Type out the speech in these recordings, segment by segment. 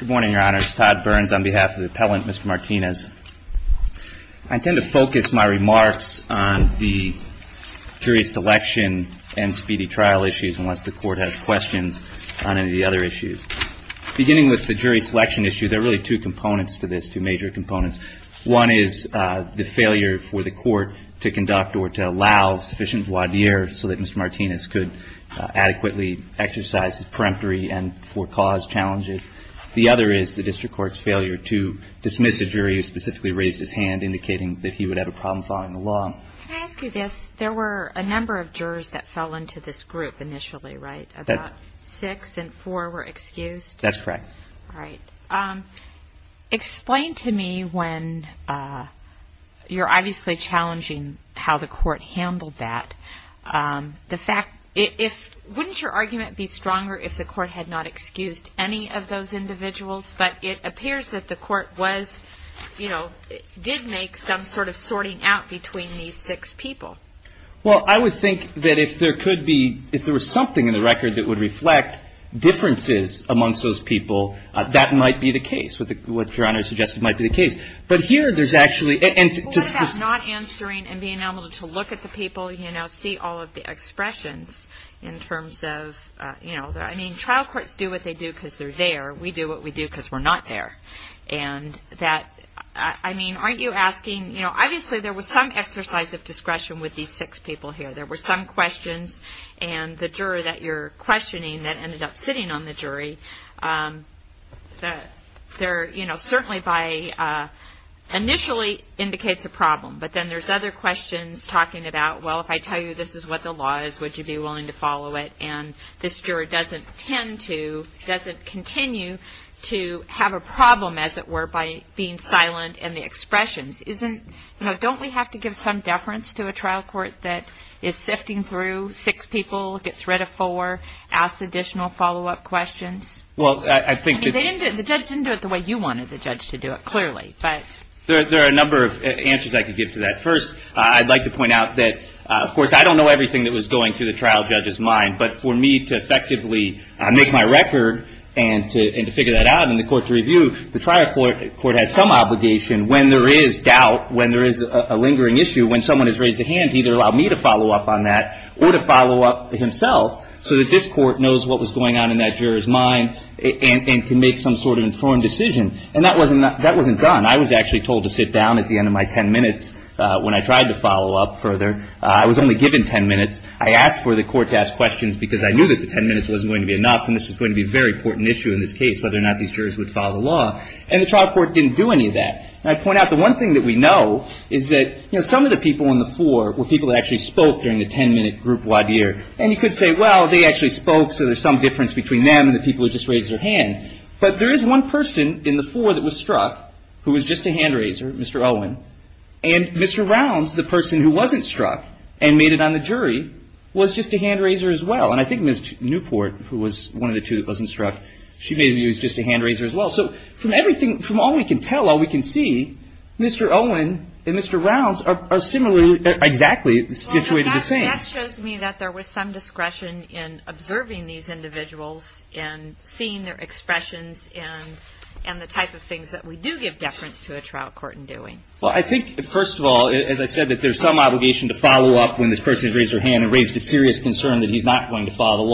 Good morning, your honors. Todd Burns on behalf of the appellant, Mr. Martinez. I intend to focus my remarks on the jury selection and speedy trial issues, unless the court has questions on any of the other issues. Beginning with the jury selection issue, there are really two components to this, two major components. One is the failure for the court to conduct or to allow sufficient voir dire so that Mr. Martinez could adequately exercise his peremptory and forecaused challenges. The other is the district court's failure to dismiss a jury who specifically raised his hand indicating that he would have a problem following the law. Can I ask you this? There were a number of jurors that fell into this group initially, right? About six and four were excused? That's correct. All right. Explain to me when you're obviously challenging how the court handled that, wouldn't your argument be stronger if the court had not excused any of those individuals, but it appears that the court did make some sort of sorting out between these six people? Well, I would think that if there was something in the record that would reflect differences amongst those people, that might be the case, what Your Honor suggested might be the case. But here there's actually What about not answering and being able to look at the people, you know, see all of the expressions in terms of, you know, I mean, trial courts do what they do because they're there. We do what we do because we're not there. And that, I mean, aren't you asking, you know, obviously there was some exercise of discretion with these six people here. There were some questions and the juror that you're questioning that ended up sitting on the jury. There, you know, certainly by initially indicates a problem, but then there's other questions talking about, well, if I tell you this is what the law is, would you be willing to follow it? And this juror doesn't tend to, doesn't continue to have a problem as it were by being silent and the expressions isn't, you know, don't we have to give some deference to a trial court that is sifting through six people, gets rid of four, asks additional follow-up questions? Well, I think that I mean, they didn't do it, the judge didn't do it the way you wanted the judge to do it, clearly, but There are a number of answers I could give to that. First, I'd like to point out that, of course, I don't know everything that was going through the trial judge's mind, but for me to effectively make my record and to figure that out and the court to review, the trial court has some obligation when there is doubt, when there is a lingering issue, when someone has raised a hand, either allow me to follow up on that or to follow up himself so that this court knows what was going on in that juror's mind and to make some sort of informed decision. And that wasn't done. I was actually told to sit down at the end of my ten minutes when I tried to follow up further. I was only given ten minutes. I asked for the court to ask questions because I knew that the ten minutes wasn't going to be enough and this was going to be a very important issue in this case, whether or not these jurors would follow the law. And the trial court didn't do any of that. And I'd point out the one thing that we know is that, you know, some of the people on the floor were people that actually spoke during the ten-minute group voir dire. And you could say, well, they actually spoke, so there's some difference between them and the people who just raised their hand. But there is one person in the floor that was struck who was just a hand raiser, Mr. Owen. And Mr. Rounds, the person who wasn't struck and made it on the jury, was just a hand raiser as well. And I think Ms. Newport, who was one of the two that wasn't struck, she made a view that it was just a hand raiser as well. So from everything, from all we can tell, all we can see, Mr. Owen and Mr. Rounds are similarly, exactly situated the same. And that shows me that there was some discretion in observing these individuals and seeing their expressions and the type of things that we do give deference to a trial court in doing. Well, I think, first of all, as I said, that there's some obligation to follow up when this person has raised their hand and raised a serious concern that he's not going to follow the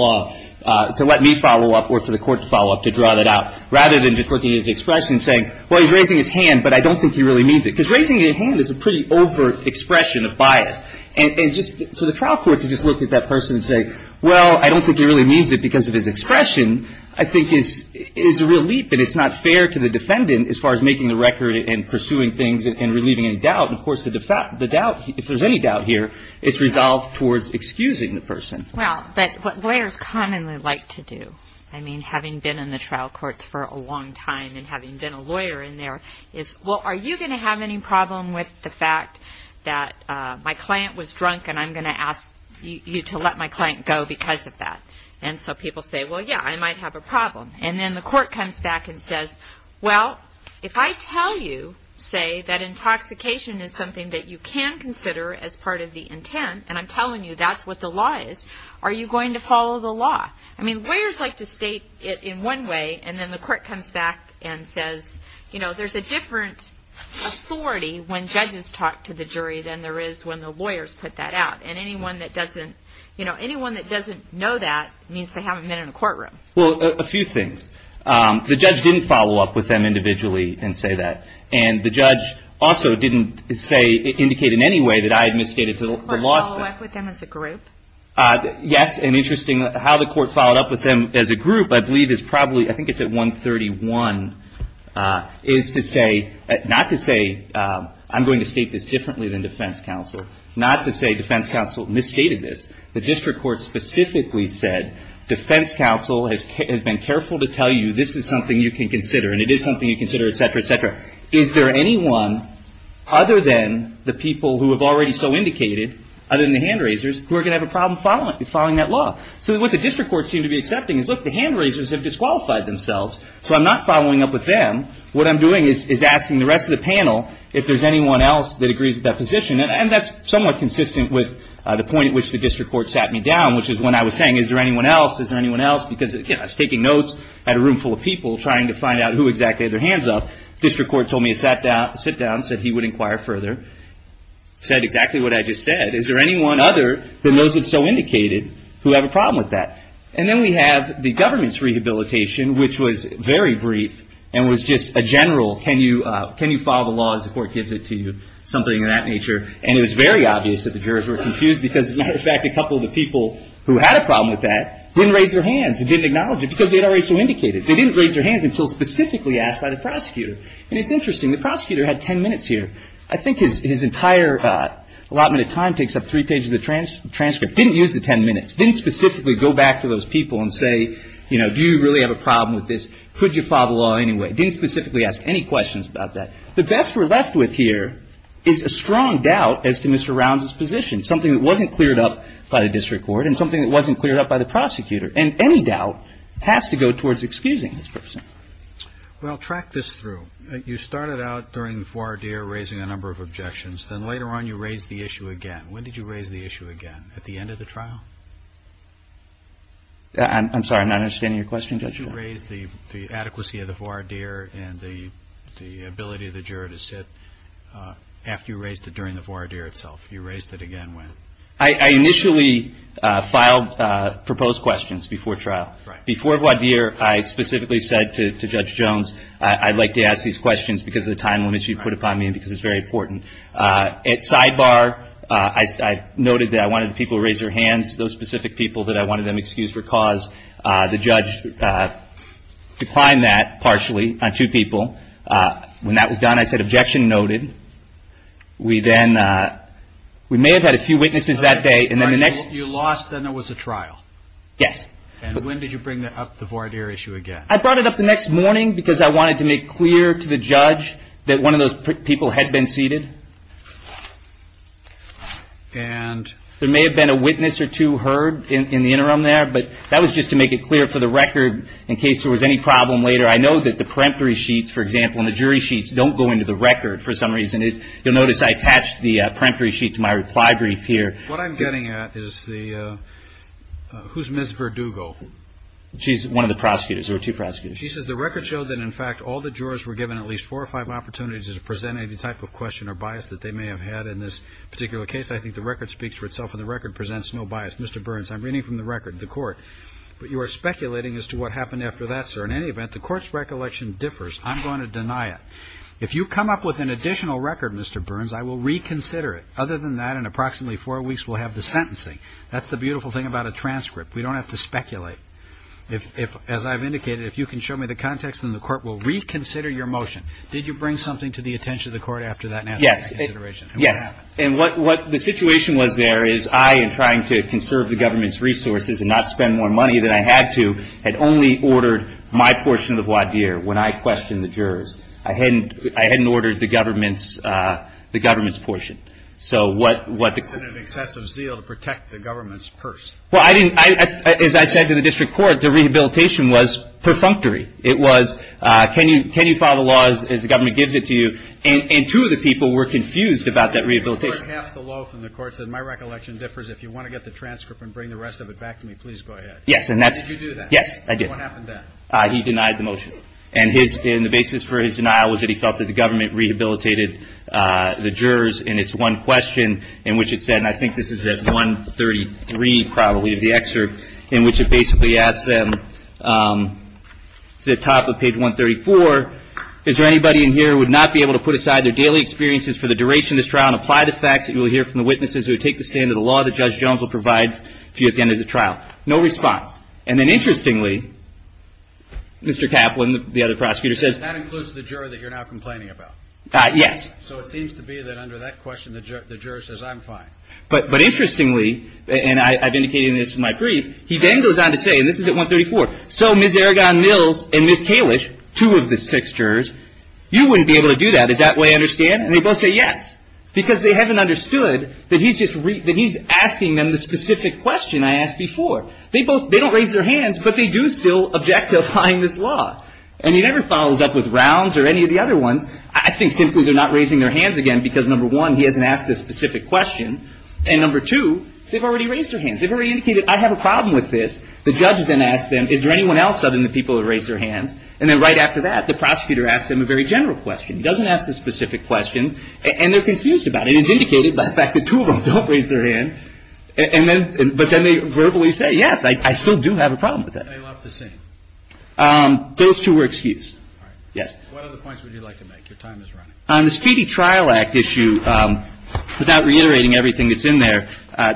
law, to let me follow up or for the court to follow up to draw that out, rather than just looking at his expression and saying, well, he's raising his hand, but I don't think he really means it. Because raising your hand is a pretty overt expression of bias. And just for the trial court to just look at that person and say, well, I don't think he really means it because of his expression, I think is a real leap. And it's not fair to the defendant as far as making the record and pursuing things and relieving any doubt. And of course, the doubt, if there's any doubt here, it's resolved towards excusing the person. Well, but what lawyers commonly like to do, I mean, having been in the trial courts for a long time and having been a lawyer in there, is, well, are you going to have any problem with the fact that my client was drunk and I'm going to ask you to let my client go because of that? And so people say, well, yeah, I might have a problem. And then the court comes back and says, well, if I tell you, say, that intoxication is something that you can consider as part of the intent, and I'm telling you that's what the law is, are you going to follow the law? I mean, lawyers like to state it in one way, and then the court comes back and says, you know, there's a different authority when judges talk to the jury than there is when the lawyers put that out. And anyone that doesn't, you know, anyone that doesn't know that means they haven't been in a courtroom. Well, a few things. The judge didn't follow up with them individually and say that. And the judge also didn't say, indicate in any way that I had misstated the law. The court followed up with them as a group? Yes, and interestingly, how the court followed up with them as a group, I believe, is probably, I think it's at 131, is to say, not to say, I'm going to state this differently than defense counsel, not to say defense counsel misstated this. The district court specifically said, defense counsel has been careful to tell you this is something you can consider, and it is something you can consider, et cetera, et cetera. Is there anyone other than the people who have already so indicated, other than the hand raisers, who are going to have a problem following that law? So what the district courts seem to be accepting is, look, the hand raisers have disqualified themselves, so I'm not following up with them. What I'm doing is asking the rest of the panel if there's anyone else that agrees with that position. And that's somewhat consistent with the point at which the district court sat me down, which is when I was saying, is there anyone else? Is there anyone else? Because, again, I was taking notes at a room full of people trying to find out who exactly had their hands up. District court told me to sit down, said he would inquire further, said exactly what I just said. Is there anyone other than those that so indicated who have a problem with that? And then we have the government's rehabilitation, which was very brief and was just a general can you follow the laws, the court gives it to you, something of that nature. And it was very obvious that the jurors were confused because, as a matter of fact, a couple of the people who had a problem with that didn't raise their hands and didn't acknowledge it because they had already so indicated. They didn't raise their hands until specifically asked by the prosecutor. And it's interesting. The prosecutor had 10 minutes here. I think his entire allotment of time takes up three pages of the transcript. Didn't use the 10 minutes. Didn't specifically go back to those people and say, you know, do you really have a problem with this? Could you follow the law anyway? Didn't specifically ask any questions about that. The best we're left with here is a strong doubt as to Mr. Rounds' position, something that wasn't cleared up by the district court and something that wasn't cleared up by the prosecutor. And any doubt has to go towards excusing this person. Well, track this through. You started out during the four-hour deer raising a number of objections. Then later on you raised the issue again. When did you raise the issue again? At the end of the trial? I'm sorry. I'm not understanding your question, Judge. When did you raise the adequacy of the four-hour deer and the ability of the juror to sit after you raised it during the four-hour deer itself? You raised it again when? I initially filed proposed questions before trial. Before four-hour deer, I specifically said to Judge Jones, I'd like to ask these questions because of the time limits you put upon me and because it's very important. At sidebar, I noted that I wanted people to raise their hands, those specific people that I wanted them to excuse for cause. The judge declined that partially on two people. When that was done, I said, objection noted. We then, we may have had a few witnesses that day and then the next... You lost, then there was a trial? Yes. And when did you bring up the four-hour deer issue again? I brought it up the next morning because I wanted to make clear to the judge that one of those people had been seated. There may have been a witness or two heard in the interim there, but that was just to make it clear for the record in case there was any problem later. I know that the peremptory sheets, for example, and the jury sheets don't go into the record for some reason. You'll notice I attached the peremptory sheet to my reply brief here. What I'm getting at is the, who's Ms. Verdugo? She's one of the prosecutors or two prosecutors. She says the record showed that in fact all the jurors were given at least four or five opportunities to present any type of question or bias that they may have had in this particular case. I think the record speaks for itself and the record presents no bias. Mr. Burns, I'm reading from the record, the court, but you are speculating as to what happened after that, sir. In any event, the court's recollection differs. I'm going to deny it. If you come up with an additional record, Mr. Burns, I will reconsider it. Other than that, in approximately four weeks, we'll have the sentencing. That's the beautiful thing about a transcript. We don't have to speculate. If, as I've indicated, if you can show me the context, then the court will reconsider your motion. Did you bring something to the attention of the court after that nationalization? Yes. And what happened? Yes. And what, what the situation was there is I, in trying to conserve the government's resources and not spend more money than I had to, had only ordered my portion of the voir dire when I questioned the jurors. I hadn't, I hadn't ordered the government's, the government's portion. So what, what the court That's an excessive zeal to protect the government's purse. Well, I didn't, I, as I said to the district court, the rehabilitation was perfunctory. It was, can you, can you follow the laws as the government gives it to you? And, and two of the people were confused about that rehabilitation. The court, half the law from the court said, my recollection differs. If you want to get the transcript and bring the rest of it back to me, please go ahead. Yes. And that's Did you do that? Yes, I did. And what happened then? He denied the motion. And his, and the basis for his denial was that he felt that the government rehabilitated the jurors. And it's one question in which it said, and I think this is at 133 probably of the excerpt in which it basically asks them, it's at the top of page 134. Is there anybody in here who would not be able to put aside their daily experiences for the duration of this trial and apply the facts that you will hear from the witnesses who would take the stand of the law that Judge Jones will provide to you at the end of the trial? No response. And then interestingly, Mr. Kaplan, the other prosecutor says That includes the juror that you're now complaining about? Yes. So it seems to be that under that question, the juror says, I'm fine. But interestingly, and I've indicated this in my brief, he then goes on to say, and this is at 134, so Ms. Aragon Mills and Ms. Kalish, two of the six jurors, you wouldn't be able to do that. Is that what I understand? And they both say yes, because they haven't understood that he's just, that he's asking them the specific question I asked before. They both, they don't raise their hands, but they do still object to applying this law. And he never follows up with rounds or any of the other ones. I think simply they're not raising their hands again, because number one, he hasn't asked the specific question. And number two, they've already raised their hands. They've already indicated, I have a problem with this. The judge then asks them, is there anyone else other than the people that raised their hands? And then right after that, the prosecutor asks them a very general question. He doesn't ask the specific question, and they're confused about it. It's indicated by the fact that two of them don't raise their hand. And then, but then they verbally say, yes, I still do have a problem with that. They left the scene? Those two were excused. All right. Yes. What other points would you like to make? Your time is running. On the Speedy Trial Act issue, without reiterating everything that's in there,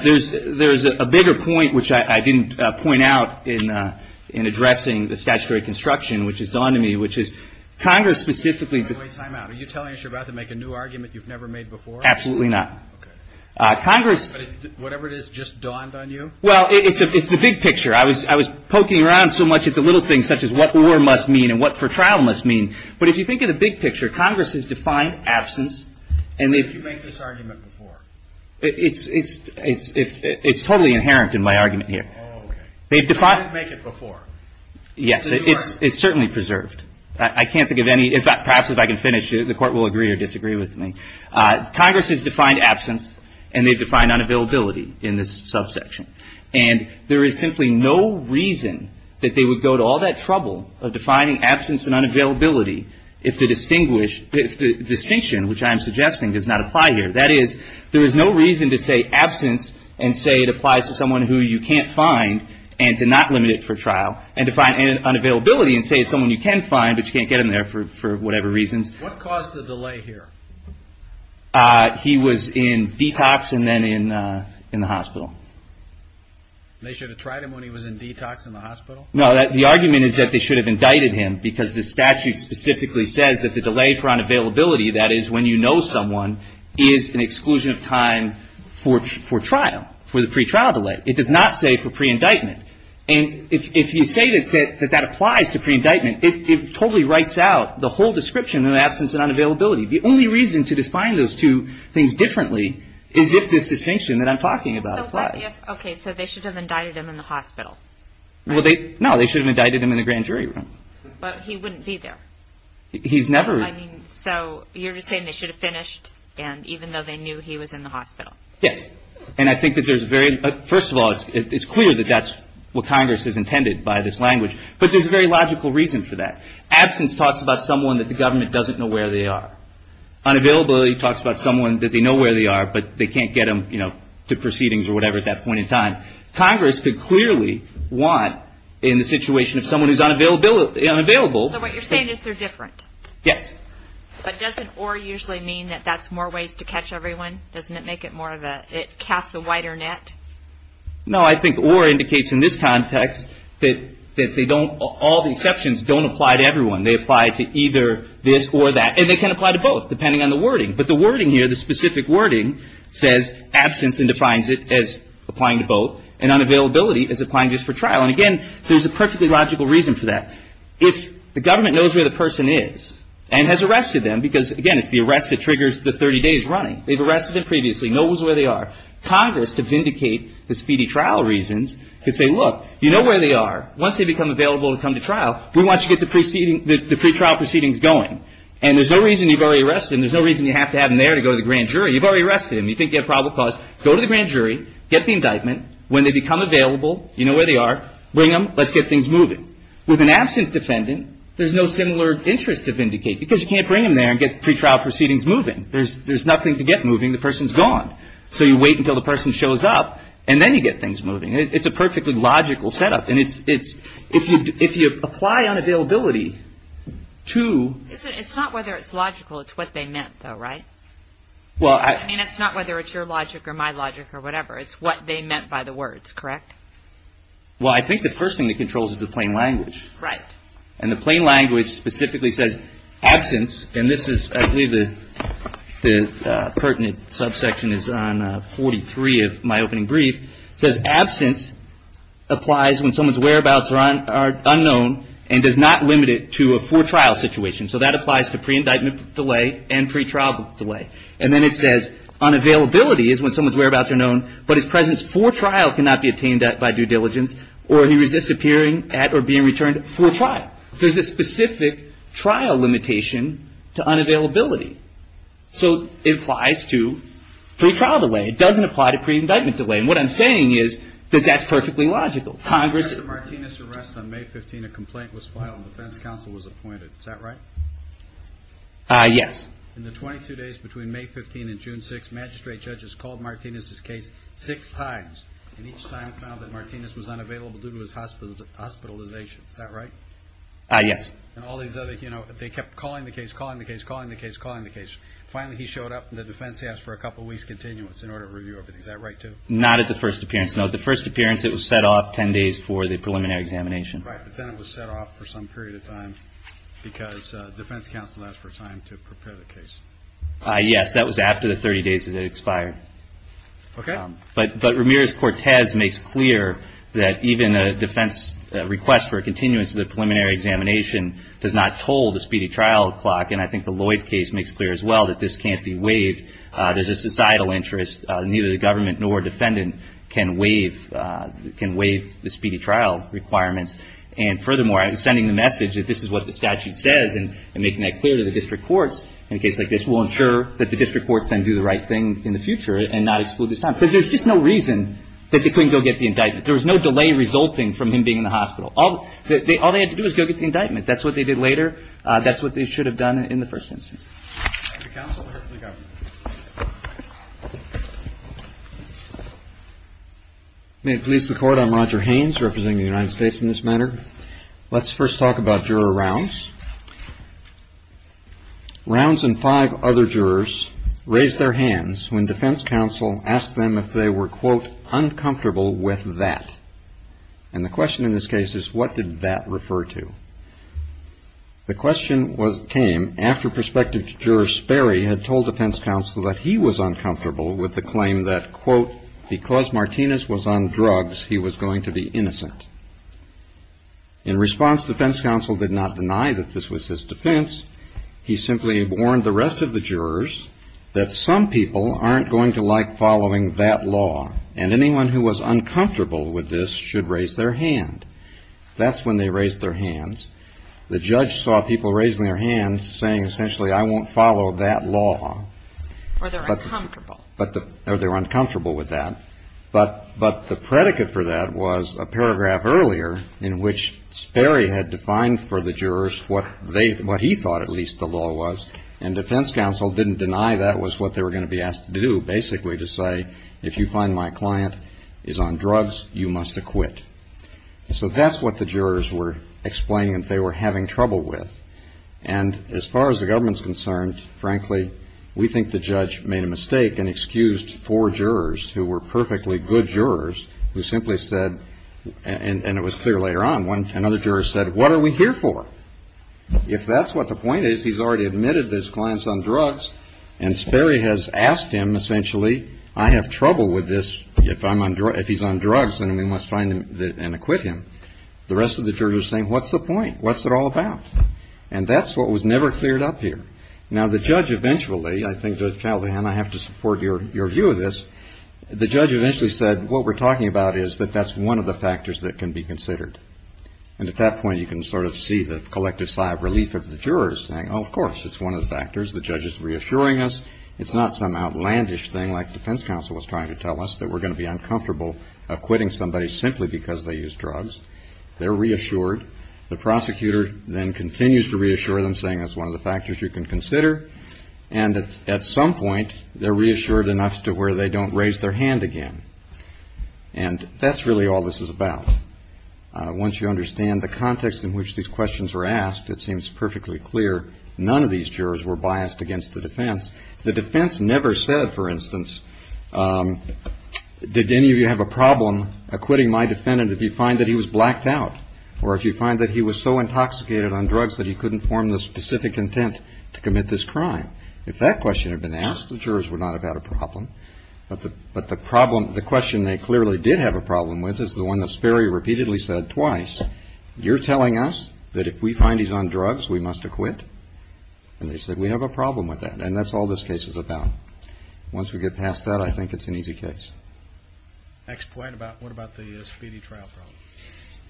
there's a bigger point which I didn't point out in addressing the statutory construction, which has dawned on me, which is Congress specifically Wait, time out. Are you telling us you're about to make a new argument you've never made before? Absolutely not. Okay. Congress Whatever it is just dawned on you? Well, it's the big picture. I was poking around so much at the little things, such as what for trial must mean. But if you think of the big picture, Congress has defined absence, and they've Did you make this argument before? It's totally inherent in my argument here. Oh, okay. They've defined You didn't make it before? Yes. So you aren't It's certainly preserved. I can't think of any. In fact, perhaps if I can finish, the Court will agree or disagree with me. Congress has defined absence, and they've defined unavailability in this subsection. And there is simply no reason that they would go to all that trouble of defining absence and unavailability if the distinction, which I am suggesting, does not apply here. That is, there is no reason to say absence and say it applies to someone who you can't find and to not limit it for trial, and to find unavailability and say it's someone you can find, but you can't get him there for whatever reasons. What caused the delay here? He was in detox and then in the hospital. They should have tried him when he was in detox in the hospital? No. The argument is that they should have indicted him because the statute specifically says that the delay for unavailability, that is, when you know someone, is an exclusion of time for trial, for the pretrial delay. It does not say for preindictment. And if you say that that applies to preindictment, it totally writes out the whole description of absence and unavailability. The only reason to define those two things differently is if this distinction that I'm talking about applies. Okay. So they should have indicted him in the hospital. Well, no. They should have indicted him in the grand jury room. But he wouldn't be there. He's never... I mean, so you're just saying they should have finished and even though they knew he was in the hospital. Yes. And I think that there's a very... First of all, it's clear that that's what Congress has intended by this language, but there's a very logical reason for that. Absence talks about someone that the government doesn't know where they are. Unavailability talks about someone that they know where they are, but they can't get them to proceedings or what they want in the situation of someone who's unavailable. So what you're saying is they're different. Yes. But doesn't or usually mean that that's more ways to catch everyone? Doesn't it make it more of a... It casts a wider net? No, I think or indicates in this context that they don't... All the exceptions don't apply to everyone. They apply to either this or that. And they can apply to both, depending on the wording. But the wording here, the specific wording, says absence and defines it as applying to both, and unavailability as applying just for trial. And again, there's a perfectly logical reason for that. If the government knows where the person is and has arrested them, because again, it's the arrest that triggers the 30 days running. They've arrested them previously, knows where they are. Congress, to vindicate the speedy trial reasons, could say, look, you know where they are. Once they become available to come to trial, we want you to get the pre-trial proceedings going. And there's no reason you've already arrested him. There's no reason you have to have him there to go to the grand jury. You've already arrested him. You think you have probable cause. Go to the grand jury. Get the indictment. When they become available, you know where they are. Bring them. Let's get things moving. With an absent defendant, there's no similar interest to vindicate, because you can't bring them there and get the pre-trial proceedings moving. There's nothing to get moving. The person's gone. So you wait until the person shows up, and then you get things moving. It's a perfectly logical setup. And it's... If you apply unavailability to... It's not whether it's logical. It's what they meant, though, right? Well, I... I mean, it's not whether it's your logic or my logic or whatever. It's what they meant by the words, correct? Well, I think the first thing that controls is the plain language. Right. And the plain language specifically says absence, and this is... I believe the pertinent subsection is on 43 of my opening brief. It says absence applies when someone's whereabouts are unknown and does not limit it to a four-trial situation. So that applies to pre-indictment delay and pre-trial delay. And then it says unavailability is when someone's whereabouts are known, but his presence for trial cannot be obtained by due diligence, or he resists appearing at or being returned for trial. There's a specific trial limitation to unavailability. So it applies to pre-trial delay. It doesn't apply to pre-indictment delay. And what I'm saying is that that's perfectly logical. Congress... In Mr. Martinez's arrest on May 15, a complaint was filed, and the defense counsel was appointed. Is that right? Yes. In the 22 days between May 15 and June 6, magistrate judges called Martinez's case six times, and each time found that Martinez was unavailable due to his hospitalization. Is that right? Yes. And all these other... They kept calling the case, calling the case, calling the case, calling the case. Finally, he showed up, and the defense asked for a couple of weeks' continuance in order to review everything. Is that right, too? Not at the first appearance. No, at the first appearance, it was set off 10 days for the preliminary examination. Right, but then it was set off for some period of time because defense counsel asked for 10 days to prepare the case. Yes, that was after the 30 days had expired. Okay. But Ramirez-Cortez makes clear that even a defense request for a continuance of the preliminary examination does not toll the speedy trial clock, and I think the Lloyd case makes clear as well that this can't be waived. There's a societal interest. Neither the government nor defendant can waive the speedy trial requirements. And furthermore, I'm sending the message that this is what the statute says, and making that clear to the district courts in a case like this will ensure that the district courts then do the right thing in the future and not exclude this time, because there's just no reason that they couldn't go get the indictment. There was no delay resulting from him being in the hospital. All they had to do was go get the indictment. That's what they did later. That's what they should have done in the first instance. Thank you, counsel. May it please the Court. I'm Roger Haynes, representing the United States in this matter. Let's first talk about Juror Rounds. Rounds and five other jurors raised their hands when defense counsel asked them if they were, quote, uncomfortable with that. And the question in this case is, what did that refer to? The question came after prospective juror Sperry had told defense counsel that he was uncomfortable with the claim that, quote, because Martinez was on drugs, he was going to be innocent. In response, defense counsel did not deny that this was his defense. He simply warned the rest of the jurors that some people aren't going to like following that law, and anyone who was uncomfortable with this should raise their hand. That's when they raised their hands. The judge saw people raising their hands saying, essentially, I won't follow that law. Or they're uncomfortable. Or they're uncomfortable with that. But the predicate for that was a paragraph earlier in which Sperry had defined for the jurors what they, what he thought at least the law was, and defense counsel didn't deny that was what they were going to be asked to do, basically to say, if you find my client is on drugs, you must acquit. So that's what the jurors were explaining that they were having trouble with. And as far as the government's concerned, frankly, we think the judge made a mistake and excused four jurors who were perfectly good jurors who simply said, and it was clear later on, another juror said, what are we here for? If that's what the point is, he's already admitted this client's on drugs, and Sperry has asked him, essentially, I have trouble with this. If he's on drugs, then we must find him and acquit him. The rest of the jurors are saying, what's the point? What's it all about? And that's what was never cleared up here. Now, the judge eventually, I think Judge Callahan, I have to support your view of this. The judge eventually said, what we're talking about is that that's one of the factors that can be considered. And at that point, you can sort of see the collective sigh of relief of the jurors saying, oh, of course, it's one of the factors. The judge is reassuring us. It's not some outlandish thing like defense counsel was trying to tell us that we're going to be uncomfortable acquitting somebody simply because they use drugs. They're reassured. The prosecutor then continues to reassure them, saying that's one of the factors you can consider. And at some point, they're reassured enough to where they don't raise their hand again. And that's really all this is about. Once you understand the context in which these questions were asked, it seems perfectly clear none of these jurors were biased against the defense. The defense never said, for instance, did any of you have a problem acquitting my defendant if you find that he was blacked out or if you find that he was so intoxicated on drugs that he couldn't form the specific intent to commit this crime? If that question had been asked, the jurors would not have had a problem. But the problem, the question they clearly did have a problem with is the one that Sperry repeatedly said twice. You're telling us that if we find he's on drugs, we must acquit? And they said, we have a problem with that. And that's all this case is about. Once we get past that, I think it's an easy case. Next point, what about the speedy trial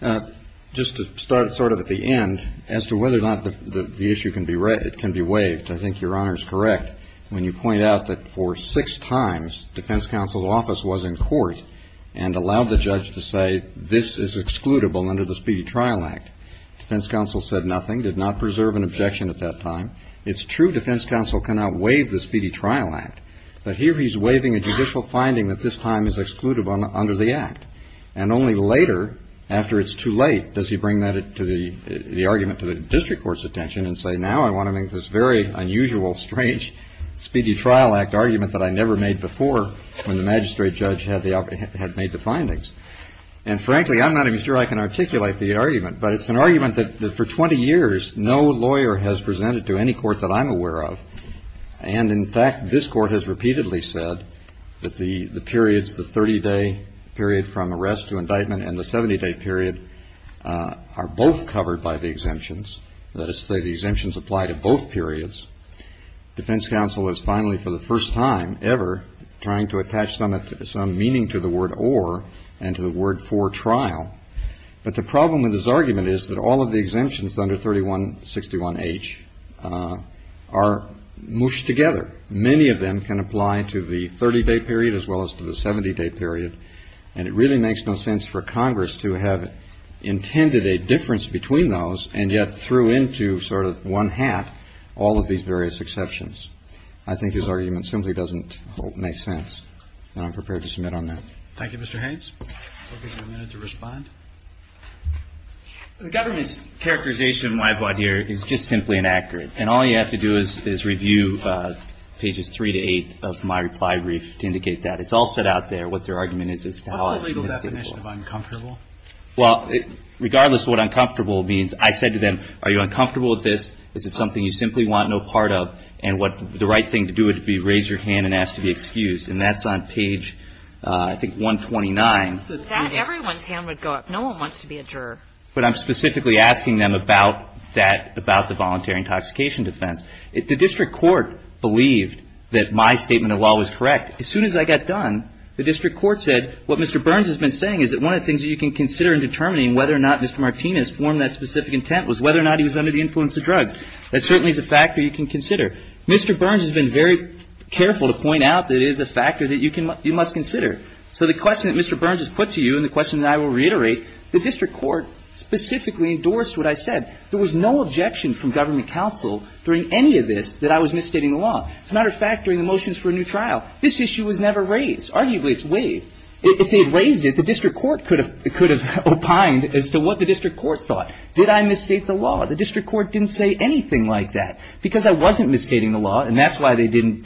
problem? Just to start sort of at the end, as to whether or not the issue can be waived, I think Your Honor is correct. When you point out that for six times, defense counsel's office was in court and allowed the judge to say, this is excludable under the Speedy Trial Act. Defense counsel said nothing, did not preserve an objection at that time. It's true defense counsel cannot waive the Speedy Trial Act. But here he's waiving a judicial finding that this time is excludable under the act. And only later, after it's too late, does he bring that to the argument to the district court's attention and say, now I want to make this very unusual, strange Speedy Trial Act argument that I never made before, when the magistrate judge had made the findings. And frankly, I'm not even sure I can articulate the argument. But it's an argument that for 20 years, no lawyer has presented to any court that I'm aware of. And in fact, this Court has repeatedly said that the periods, the 30-day period from arrest to indictment and the 70-day period are both covered by the exemptions. That is to say, the exemptions apply to both periods. Defense counsel is finally for the first time ever trying to attach some meaning to the word or and to the word for trial. But the problem with his argument is that all of the exemptions under 3161H are mushed together. Many of them can apply to the 30-day period as well as to the 70-day period. And it really makes no sense for Congress to have intended a difference between those and yet threw into sort of one hat all of these various exceptions. I think his argument simply doesn't make sense. And I'm prepared to submit on that. Thank you, Mr. Haynes. We'll give you a minute to respond. The government's characterization of my point here is just simply inaccurate. And all you have to do is review pages 3 to 8 of my reply brief to indicate that. It's all set out there, what their argument is. What's the legal definition of uncomfortable? Well, regardless of what uncomfortable means, I said to them, are you uncomfortable with this? Is it something you simply want no part of? And the right thing to do would be raise your hand and ask to be excused. And that's on page, I think, 129. Not everyone's hand would go up. No one wants to be a juror. But I'm specifically asking them about that, about the voluntary intoxication defense. The district court believed that my statement of law was correct. As soon as I got done, the district court said, what Mr. Burns has been saying is that one of the things that you can consider in determining whether or not Mr. Martinez formed that specific intent was whether or not he was under the influence of drugs. That certainly is a factor you can consider. Mr. Burns has been very careful to point out that it is a factor that you must consider. So the question that Mr. Burns has put to you and the question that I will reiterate, the district court specifically endorsed what I said. There was no objection from government counsel during any of this that I was misstating the law. As a matter of fact, during the motions for a new trial, this issue was never raised. Arguably, it's waived. If they had raised it, the district court could have opined as to what the district court thought. Did I misstate the law? The district court didn't say anything like that because I wasn't misstating the law, and that's why they didn't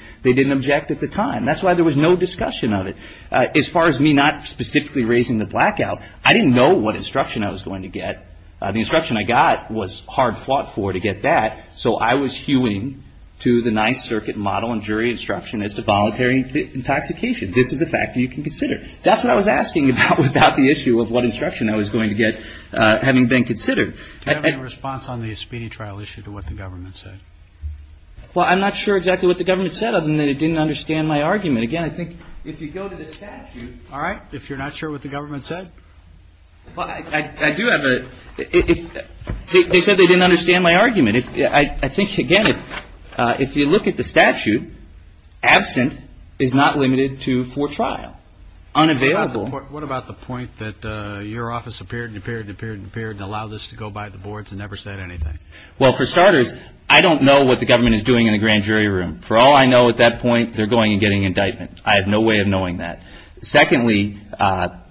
object at the time. That's why there was no discussion of it. As far as me not specifically raising the blackout, I didn't know what instruction I was going to get. The instruction I got was hard fought for to get that, so I was hewing to the Ninth Circuit model and jury instruction as to voluntary intoxication. This is a factor you can consider. That's what I was asking about without the issue of what instruction I was going to get having been considered. Do you have any response on the speeding trial issue to what the government said? Well, I'm not sure exactly what the government said, other than they didn't understand my argument. Again, I think if you go to the statute. All right. If you're not sure what the government said? Well, I do have a – they said they didn't understand my argument. I think, again, if you look at the statute, absent is not limited to for trial. Unavailable. What about the point that your office appeared and appeared and appeared and appeared and allowed this to go by the boards and never said anything? Well, for starters, I don't know what the government is doing in the grand jury room. For all I know at that point, they're going and getting indictment. I have no way of knowing that. Secondly, again,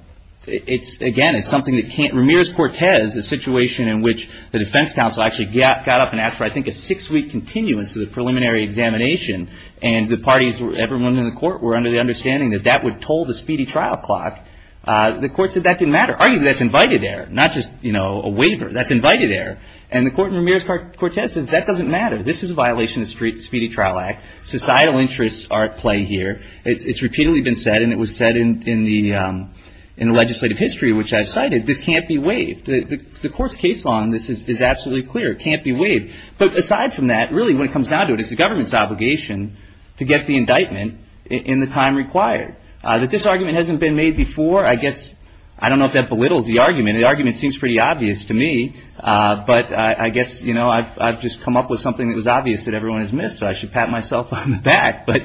it's something that can't – Ramirez-Cortez, the situation in which the defense counsel actually got up and asked for, I think, a six-week continuance of the preliminary examination, and the parties, everyone in the court, were under the understanding that that would toll the speedy trial clock. The court said that didn't matter. Arguably, that's invited error, not just a waiver. That's invited error. And the court in Ramirez-Cortez says that doesn't matter. This is a violation of the Speedy Trial Act. Societal interests are at play here. It's repeatedly been said, and it was said in the legislative history, which I cited, this can't be waived. The court's case law on this is absolutely clear. It can't be waived. But aside from that, really, when it comes down to it, it's the government's obligation to get the indictment in the time required. That this argument hasn't been made before, I guess, I don't know if that belittles the argument. The argument seems pretty obvious to me, but I guess, you know, I've just come up with something that was obvious that everyone has missed, so I should pat myself on the back. But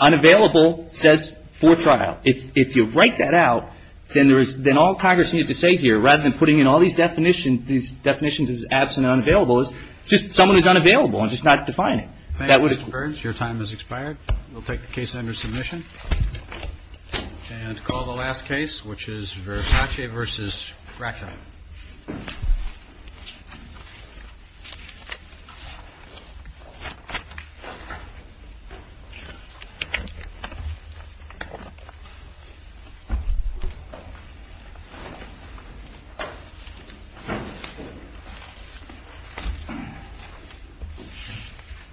unavailable says for trial. If you write that out, then all Congress needed to say here, rather than putting in all these definitions, is absent and unavailable, is just someone who's unavailable and just not defining. That would have. Your time has expired. We'll take the case under submission and call the last case, which is Verracce v. Gratia.